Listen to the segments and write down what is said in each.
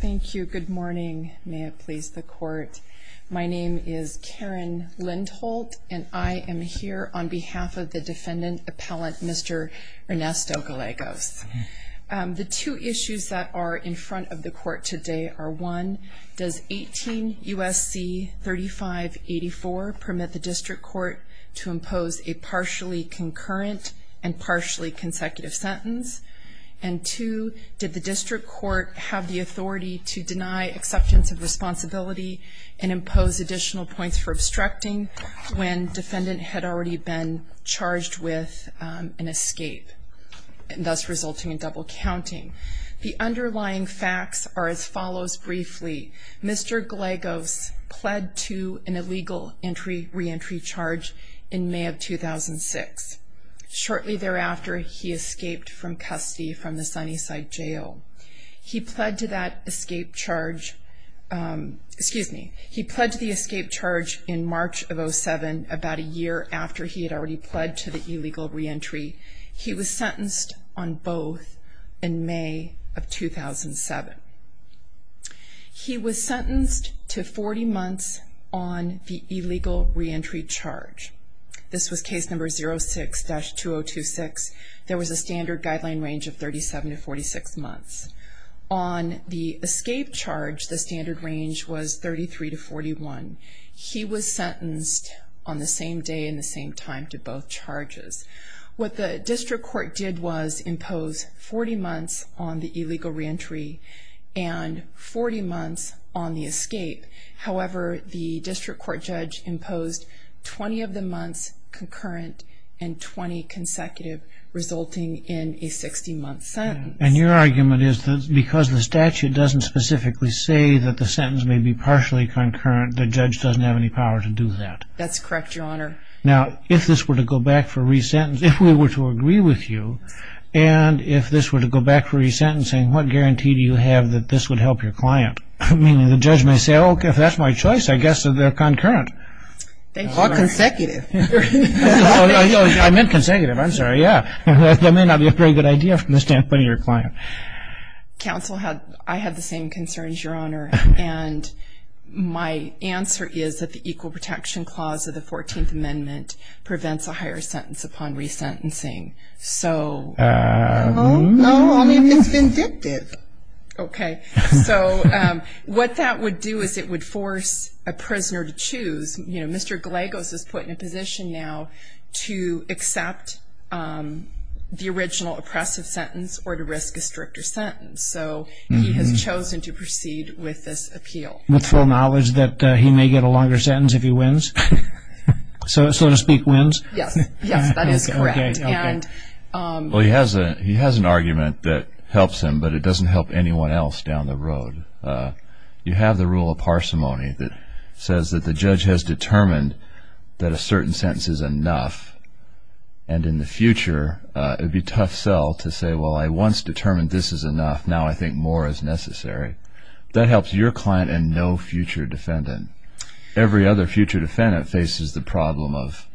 Thank you. Good morning. May it please the court. My name is Karen Lindholt, and I am here on behalf of the defendant appellant, Mr. Ernesto Gallegos. The two issues that are in front of the court today are 1. Does 18 U.S.C. 3584 permit the district court to impose a partially concurrent and partially consecutive sentence? And 2. Did the district court have the authority to deny acceptance of responsibility and impose additional points for obstructing when defendant had already been charged with an escape, thus resulting in double counting? The underlying facts are as follows briefly. Mr. Gallegos pled to an illegal reentry charge in May of 2006. Shortly thereafter, he escaped from custody from the Sunnyside Jail. He pled to that escape charge in March of 2007, about a year after he had already pled to the illegal reentry. He was sentenced on both in May of 2007. He was sentenced to 40 months on the illegal reentry charge. This was case number 06-2026. There was a standard guideline range of 37 to 46 months. On the escape charge, the standard range was 33 to 41. He was sentenced on the same day and the same time to both charges. What the district court did was impose 40 months on the illegal reentry and 40 months on the escape. However, the district court judge imposed 20 of the months concurrent and 20 consecutive, resulting in a 60-month sentence. And your argument is that because the statute doesn't specifically say that the sentence may be partially concurrent, the judge doesn't have any power to do that? That's correct, Your Honor. Now, if this were to go back for re-sentencing, if we were to agree with you, and if this were to go back for re-sentencing, what guarantee do you have that this would help your client? I mean, the judge may say, okay, if that's my choice, I guess they're concurrent. Or consecutive. I meant consecutive. I'm sorry. Yeah. That may not be a very good idea from the standpoint of your client. Counsel, I had the same concerns, Your Honor. And my answer is that the Equal Protection Clause of the 14th Amendment prevents a higher sentence upon re-sentencing. So... No, only if it's vindictive. Okay. So what that would do is it would force a prisoner to choose. You know, Mr. Gallegos is put in a position now to accept the original oppressive sentence or to risk a stricter sentence. So he has chosen to proceed with this appeal. With full knowledge that he may get a longer sentence if he wins? So to speak, wins? Yes. Yes, that is correct. Okay. Okay. You have the rule of parsimony that says that the judge has determined that a certain sentence is enough. And in the future, it would be tough sell to say, well, I once determined this is enough. Now I think more is necessary. That helps your client and no future defendant. Every other future defendant faces the problem of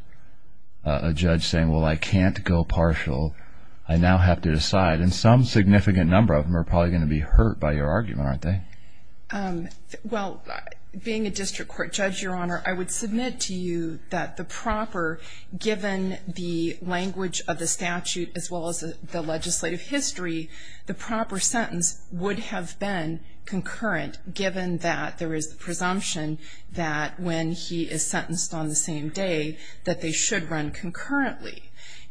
a judge saying, well, I can't go partial. I now have to decide. And some significant number of them are probably going to be hurt by your argument, aren't they? Well, being a district court judge, Your Honor, I would submit to you that the proper, given the language of the statute as well as the legislative history, the proper sentence would have been concurrent, given that there is the presumption that when he is sentenced on the same day, that they should run concurrently.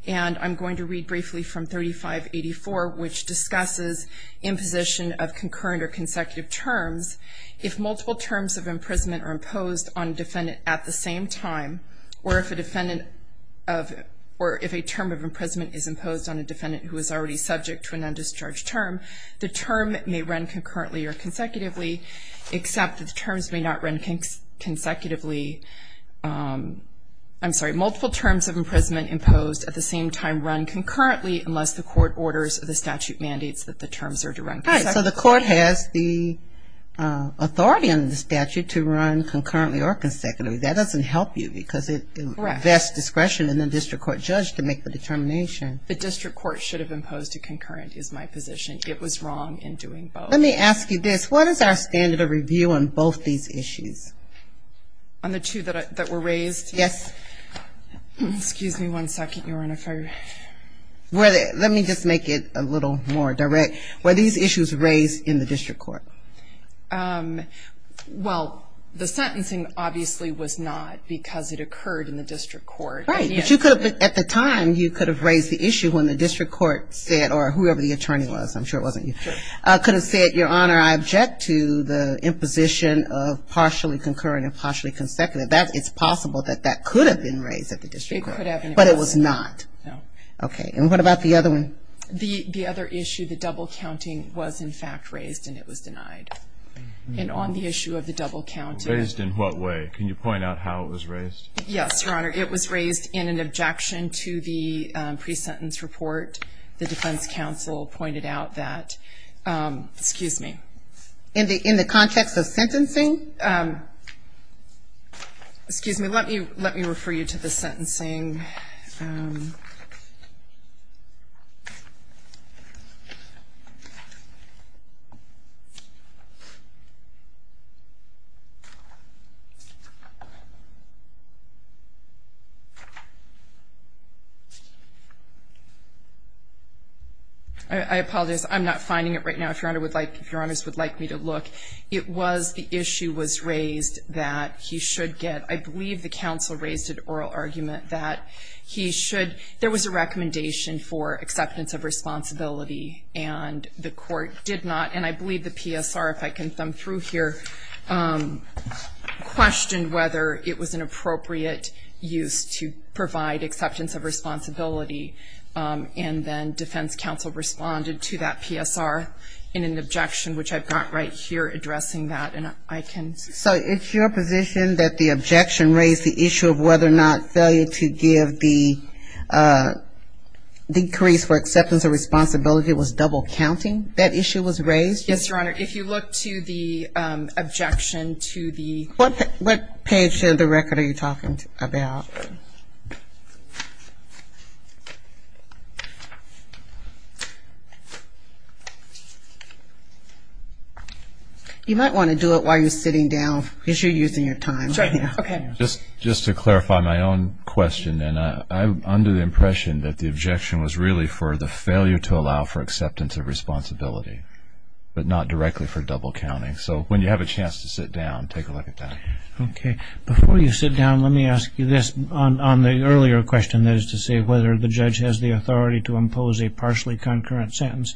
And I'm going to read briefly from 3584, which discusses imposition of concurrent or consecutive terms. If multiple terms of imprisonment are imposed on a defendant at the same time, or if a term of imprisonment is imposed on a defendant who is already subject to an undischarged term, the term may run concurrently or consecutively, except that the terms may not run consecutively. I'm sorry. Multiple terms of imprisonment imposed at the same time run concurrently unless the court orders the statute mandates that the terms are to run consecutively. All right. So the court has the authority under the statute to run concurrently or consecutively. That doesn't help you because it invests discretion in the district court judge to make the determination. The district court should have imposed a concurrent is my position. It was wrong in doing both. Let me ask you this. What is our standard of review on both these issues? On the two that were raised? Yes. Excuse me one second, Your Honor. Let me just make it a little more direct. Were these issues raised in the district court? Well, the sentencing obviously was not because it occurred in the district court. Right. At the time, you could have raised the issue when the district court said, or whoever the attorney was, I'm sure it wasn't you, could have said, Your Honor, I object to the imposition of partially concurrent and partially consecutive. It's possible that that could have been raised at the district court. It could have been. But it was not. No. Okay. And what about the other one? The other issue, the double counting, was in fact raised and it was denied. And on the issue of the double counting. Raised in what way? Can you point out how it was raised? Yes, Your Honor. It was raised in an objection to the pre-sentence report. The defense counsel pointed out that. Excuse me. In the context of sentencing? Excuse me. Let me refer you to the sentencing. I apologize. I'm not finding it right now, if Your Honors would like me to look. The issue was raised that he should get. I believe the counsel raised an oral argument that he should. There was a recommendation for acceptance of responsibility and the court did not. And I believe the PSR, if I can thumb through here, questioned whether it was an appropriate use to provide acceptance of responsibility. And then defense counsel responded to that PSR in an objection, which I've got right here addressing that. And I can. So it's your position that the objection raised the issue of whether or not failure to give the decrease for acceptance of responsibility was double counting? That issue was raised? Yes, Your Honor. If you look to the objection to the. What page of the record are you talking about? You might want to do it while you're sitting down because you're using your time. Just to clarify my own question, I'm under the impression that the objection was really for the failure to allow for acceptance of responsibility, but not directly for double counting. So when you have a chance to sit down, take a look at that. Okay. Before you sit down, let me ask you this. On the earlier question, that is to say whether the judge has the authority to impose a partially concurrent sentence,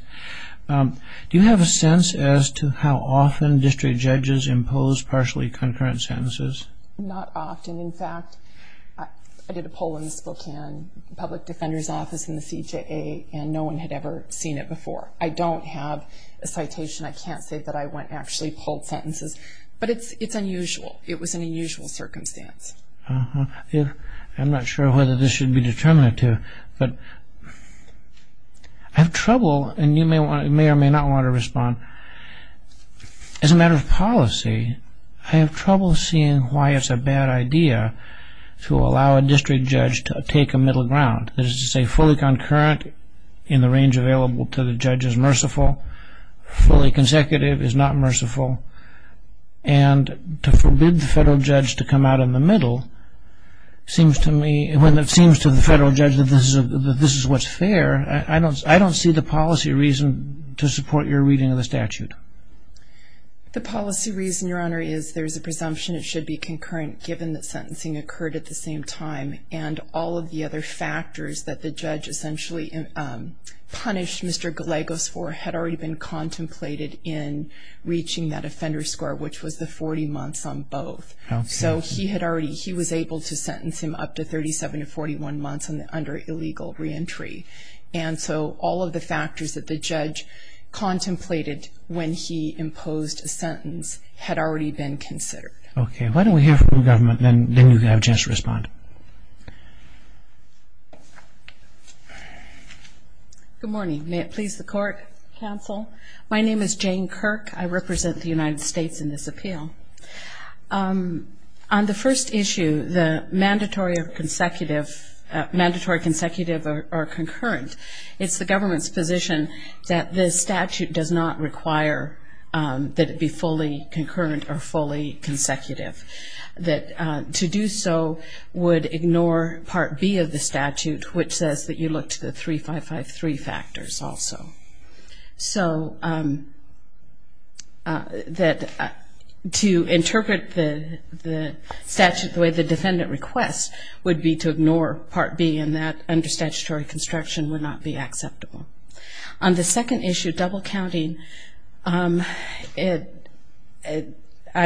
do you have a sense as to how often district judges impose partially concurrent sentences? Not often. In fact, I did a poll in the Spokane Public Defender's Office in the CJA, and no one had ever seen it before. I don't have a citation. I can't say that I went and actually polled sentences. But it's unusual. It was an unusual circumstance. I'm not sure whether this should be determinative, but I have trouble, and you may or may not want to respond. As a matter of policy, I have trouble seeing why it's a bad idea to allow a district judge to take a middle ground. It's not merciful. Fully consecutive is not merciful. And to forbid the federal judge to come out in the middle seems to me, when it seems to the federal judge that this is what's fair, I don't see the policy reason to support your reading of the statute. The policy reason, Your Honor, is there's a presumption it should be concurrent, given that sentencing occurred at the same time, and all of the other factors that the judge essentially punished Mr. Gallegos for had already been contemplated in reaching that offender score, which was the 40 months on both. So he was able to sentence him up to 37 to 41 months under illegal reentry. And so all of the factors that the judge contemplated when he imposed a sentence had already been considered. Okay. Why don't we hear from the government, then you have a chance to respond. Good morning. May it please the court, counsel. My name is Jane Kirk. I represent the United States in this appeal. On the first issue, the mandatory consecutive or concurrent, it's the government's position that this statute does not require that it be fully concurrent or fully consecutive, that to do so would ignore Part B of the statute, which says that you look to the 3553 factors also. So to interpret the statute the way the defendant requests would be to ignore Part B, and that under statutory construction would not be acceptable. On the second issue, double counting, I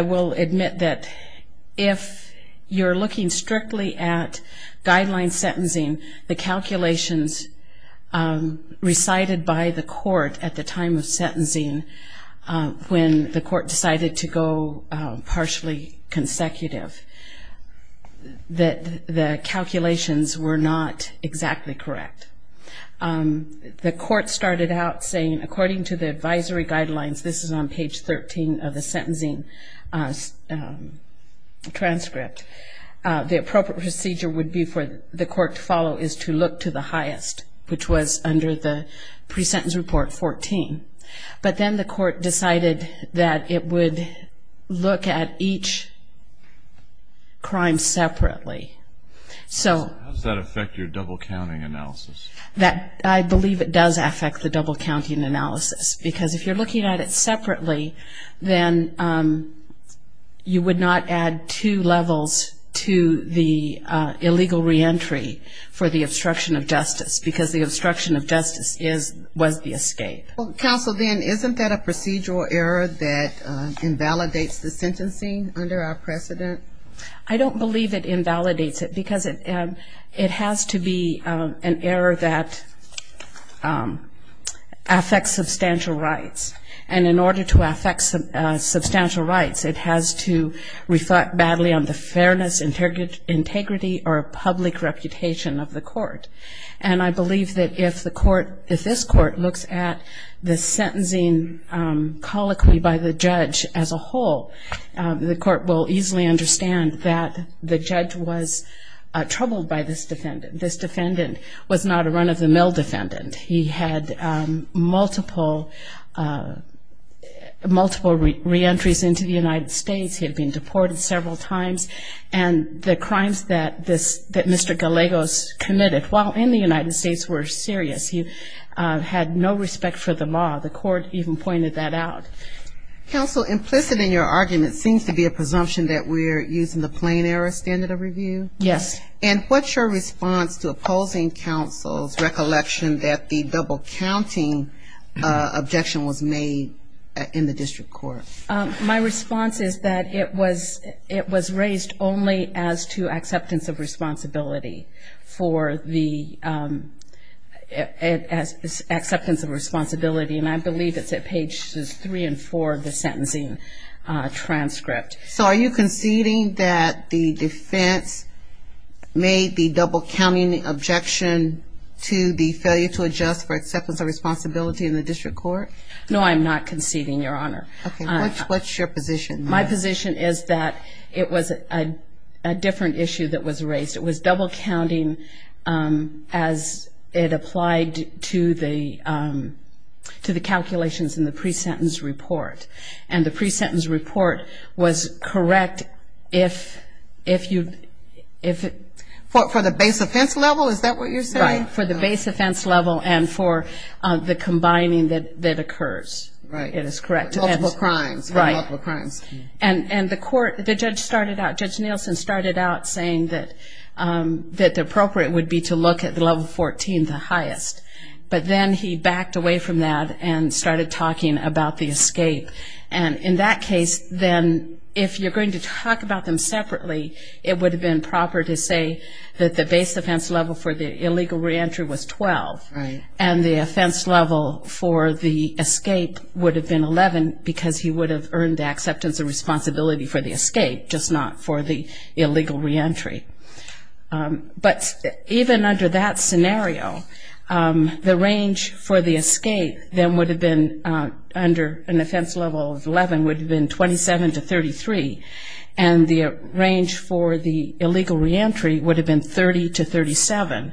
will admit that if you're looking strictly at guideline sentencing, the calculations recited by the court at the time of sentencing when the court decided to go partially consecutive, the calculations were not exactly correct. The court started out saying, according to the advisory guidelines, this is on page 13 of the sentencing transcript, the appropriate procedure would be for the court to follow is to look to the highest, which was under the pre-sentence report 14. But then the court decided that it would look at each crime separately. So how does that affect your double counting analysis? I believe it does affect the double counting analysis, because if you're looking at it separately, then you would not add two levels to the illegal reentry for the obstruction of justice, because the obstruction of justice was the escape. Counsel, then, isn't that a procedural error that invalidates the sentencing under our precedent? I don't believe it invalidates it, because it has to be an error that affects substantial rights. And in order to affect substantial rights, it has to reflect badly on the fairness, integrity, or public reputation of the court. And I believe that if this court looks at the sentencing colloquy by the judge as a whole, the court will easily understand that the judge was troubled by this defendant. This defendant was not a run-of-the-mill defendant. He had multiple reentries into the United States. He had been deported several times. And the crimes that Mr. Gallegos committed while in the United States were serious. He had no respect for the law. The court even pointed that out. Counsel, implicit in your argument seems to be a presumption that we're using the plain error standard of review. Yes. And what's your response to opposing counsel's recollection that the double-counting objection was made in the district court? My response is that it was raised only as to acceptance of responsibility for the acceptance of responsibility. And I believe it's at pages three and four of the sentencing transcript. So are you conceding that the defense made the double-counting objection to the failure to adjust for acceptance of responsibility in the district court? No, I'm not conceding, Your Honor. Okay. What's your position? My position is that it was a different issue that was raised. It was double-counting as it applied to the calculations in the pre-sentence report. And the pre-sentence report was correct if you – For the base offense level? Is that what you're saying? Right. For the base offense level and for the combining that occurs. Right. It is correct. Multiple crimes. Right. Multiple crimes. And the court – the judge started out – Judge Nielsen started out saying that the appropriate would be to look at the level 14, the highest. But then he backed away from that and started talking about the escape. And in that case, then, if you're going to talk about them separately, it would have been proper to say that the base offense level for the illegal reentry was 12. Right. And the offense level for the escape would have been 11 because he would have earned the acceptance and responsibility for the escape, just not for the illegal reentry. But even under that scenario, the range for the escape, then, would have been – under an offense level of 11 would have been 27 to 33. And the range for the illegal reentry would have been 30 to 37.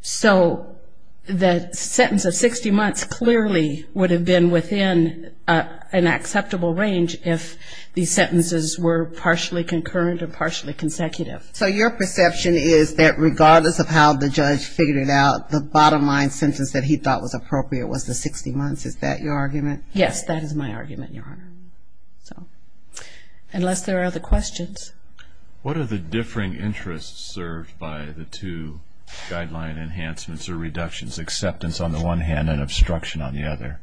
So the sentence of 60 months clearly would have been within an acceptable range if these sentences were partially concurrent or partially consecutive. So your perception is that regardless of how the judge figured it out, the bottom line sentence that he thought was appropriate was the 60 months. Is that your argument? Yes, that is my argument, Your Honor. Unless there are other questions. What are the differing interests served by the two guideline enhancements or reductions, acceptance on the one hand and obstruction on the other?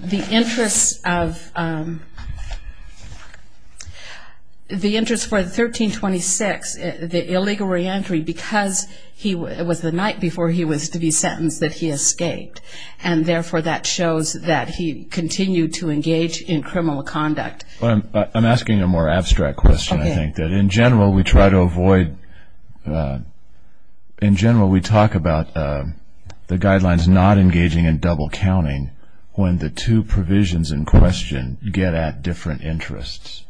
The interest for 1326, the illegal reentry, because it was the night before he was to be sentenced that he escaped. And therefore, that shows that he continued to engage in criminal conduct. I'm asking a more abstract question, I think. In general, we try to avoid – in general, we talk about the guidelines not engaging in double counting when the two provisions in question get at different interests.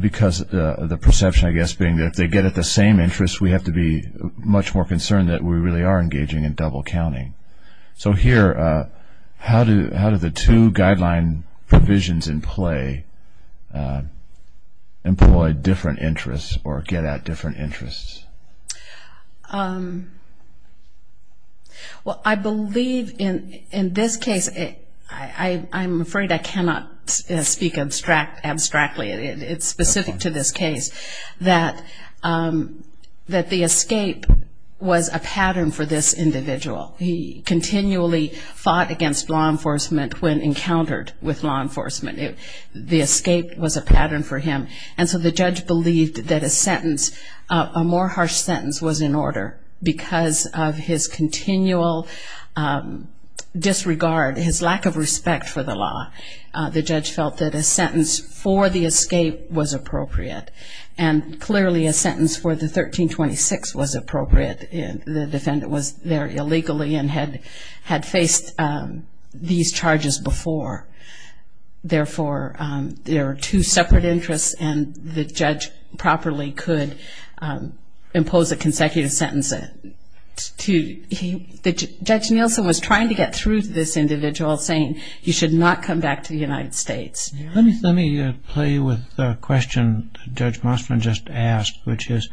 Because the perception, I guess, being that if they get at the same interests, we have to be much more concerned that we really are engaging in double counting. So here, how do the two guideline provisions in play employ different interests or get at different interests? Well, I believe in this case – I'm afraid I cannot speak abstractly. It's specific to this case that the escape was a pattern for this individual. He continually fought against law enforcement when encountered with law enforcement. The escape was a pattern for him. And so the judge believed that a sentence, a more harsh sentence, was in order. Because of his continual disregard, his lack of respect for the law, the judge felt that a sentence for the escape was appropriate. And clearly, a sentence for the 1326 was appropriate. The defendant was there illegally and had faced these charges before. Therefore, there are two separate interests, and the judge properly could impose a consecutive sentence. Judge Nielsen was trying to get through to this individual, saying he should not come back to the United States. Let me play with the question Judge Mossman just asked, which is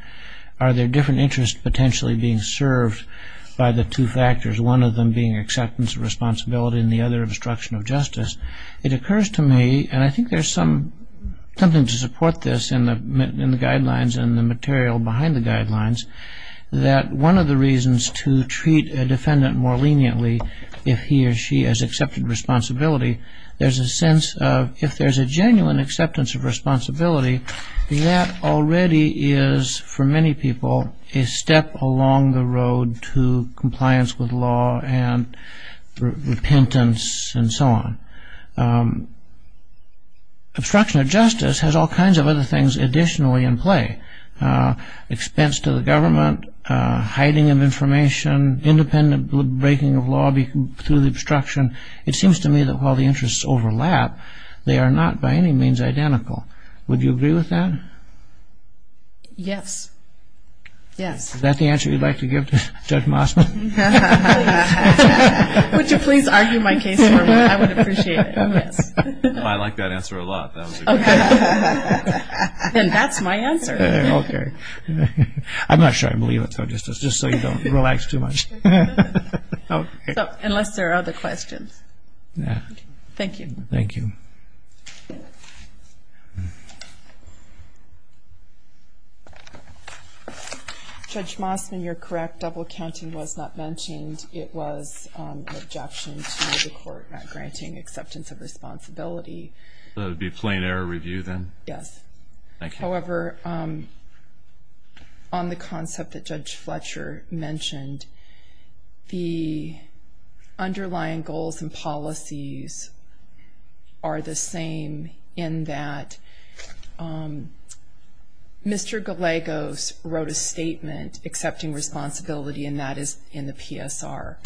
are there different interests potentially being served by the two factors, one of them being acceptance of responsibility and the other obstruction of justice. It occurs to me, and I think there's something to support this in the guidelines and the material behind the guidelines, that one of the reasons to treat a defendant more leniently if he or she has accepted responsibility, there's a sense of if there's a genuine acceptance of responsibility, that already is, for many people, a step along the road to compliance with law and repentance and so on. Obstruction of justice has all kinds of other things additionally in play. Expense to the government, hiding of information, independent breaking of law through the obstruction. It seems to me that while the interests overlap, they are not by any means identical. Would you agree with that? Yes. Yes. Is that the answer you'd like to give to Judge Mossman? Would you please argue my case for me? I would appreciate it, yes. I like that answer a lot. Then that's my answer. Okay. I'm not sure I believe it, so just so you don't relax too much. Unless there are other questions. Thank you. Thank you. Judge Mossman, you're correct. Double counting was not mentioned. It was an objection to the court not granting acceptance of responsibility. So it would be a plain error review then? Yes. Thank you. However, on the concept that Judge Fletcher mentioned, the underlying goals and policies are the same in that Mr. Gallegos wrote a statement accepting responsibility, and that is in the PSR.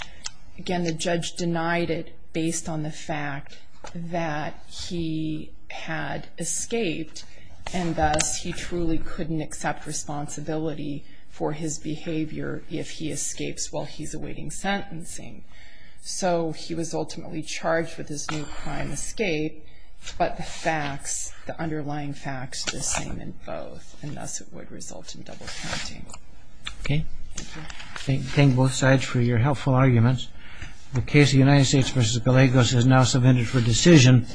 Again, the judge denied it based on the fact that he had escaped, and thus he truly couldn't accept responsibility for his behavior if he escapes while he's awaiting sentencing. So he was ultimately charged with his new crime escape, but the facts, the underlying facts are the same in both, and thus it would result in double counting. Okay. Thank you. Thank you both sides for your helpful arguments. The case of the United States v. Gallegos is now submitted for decision.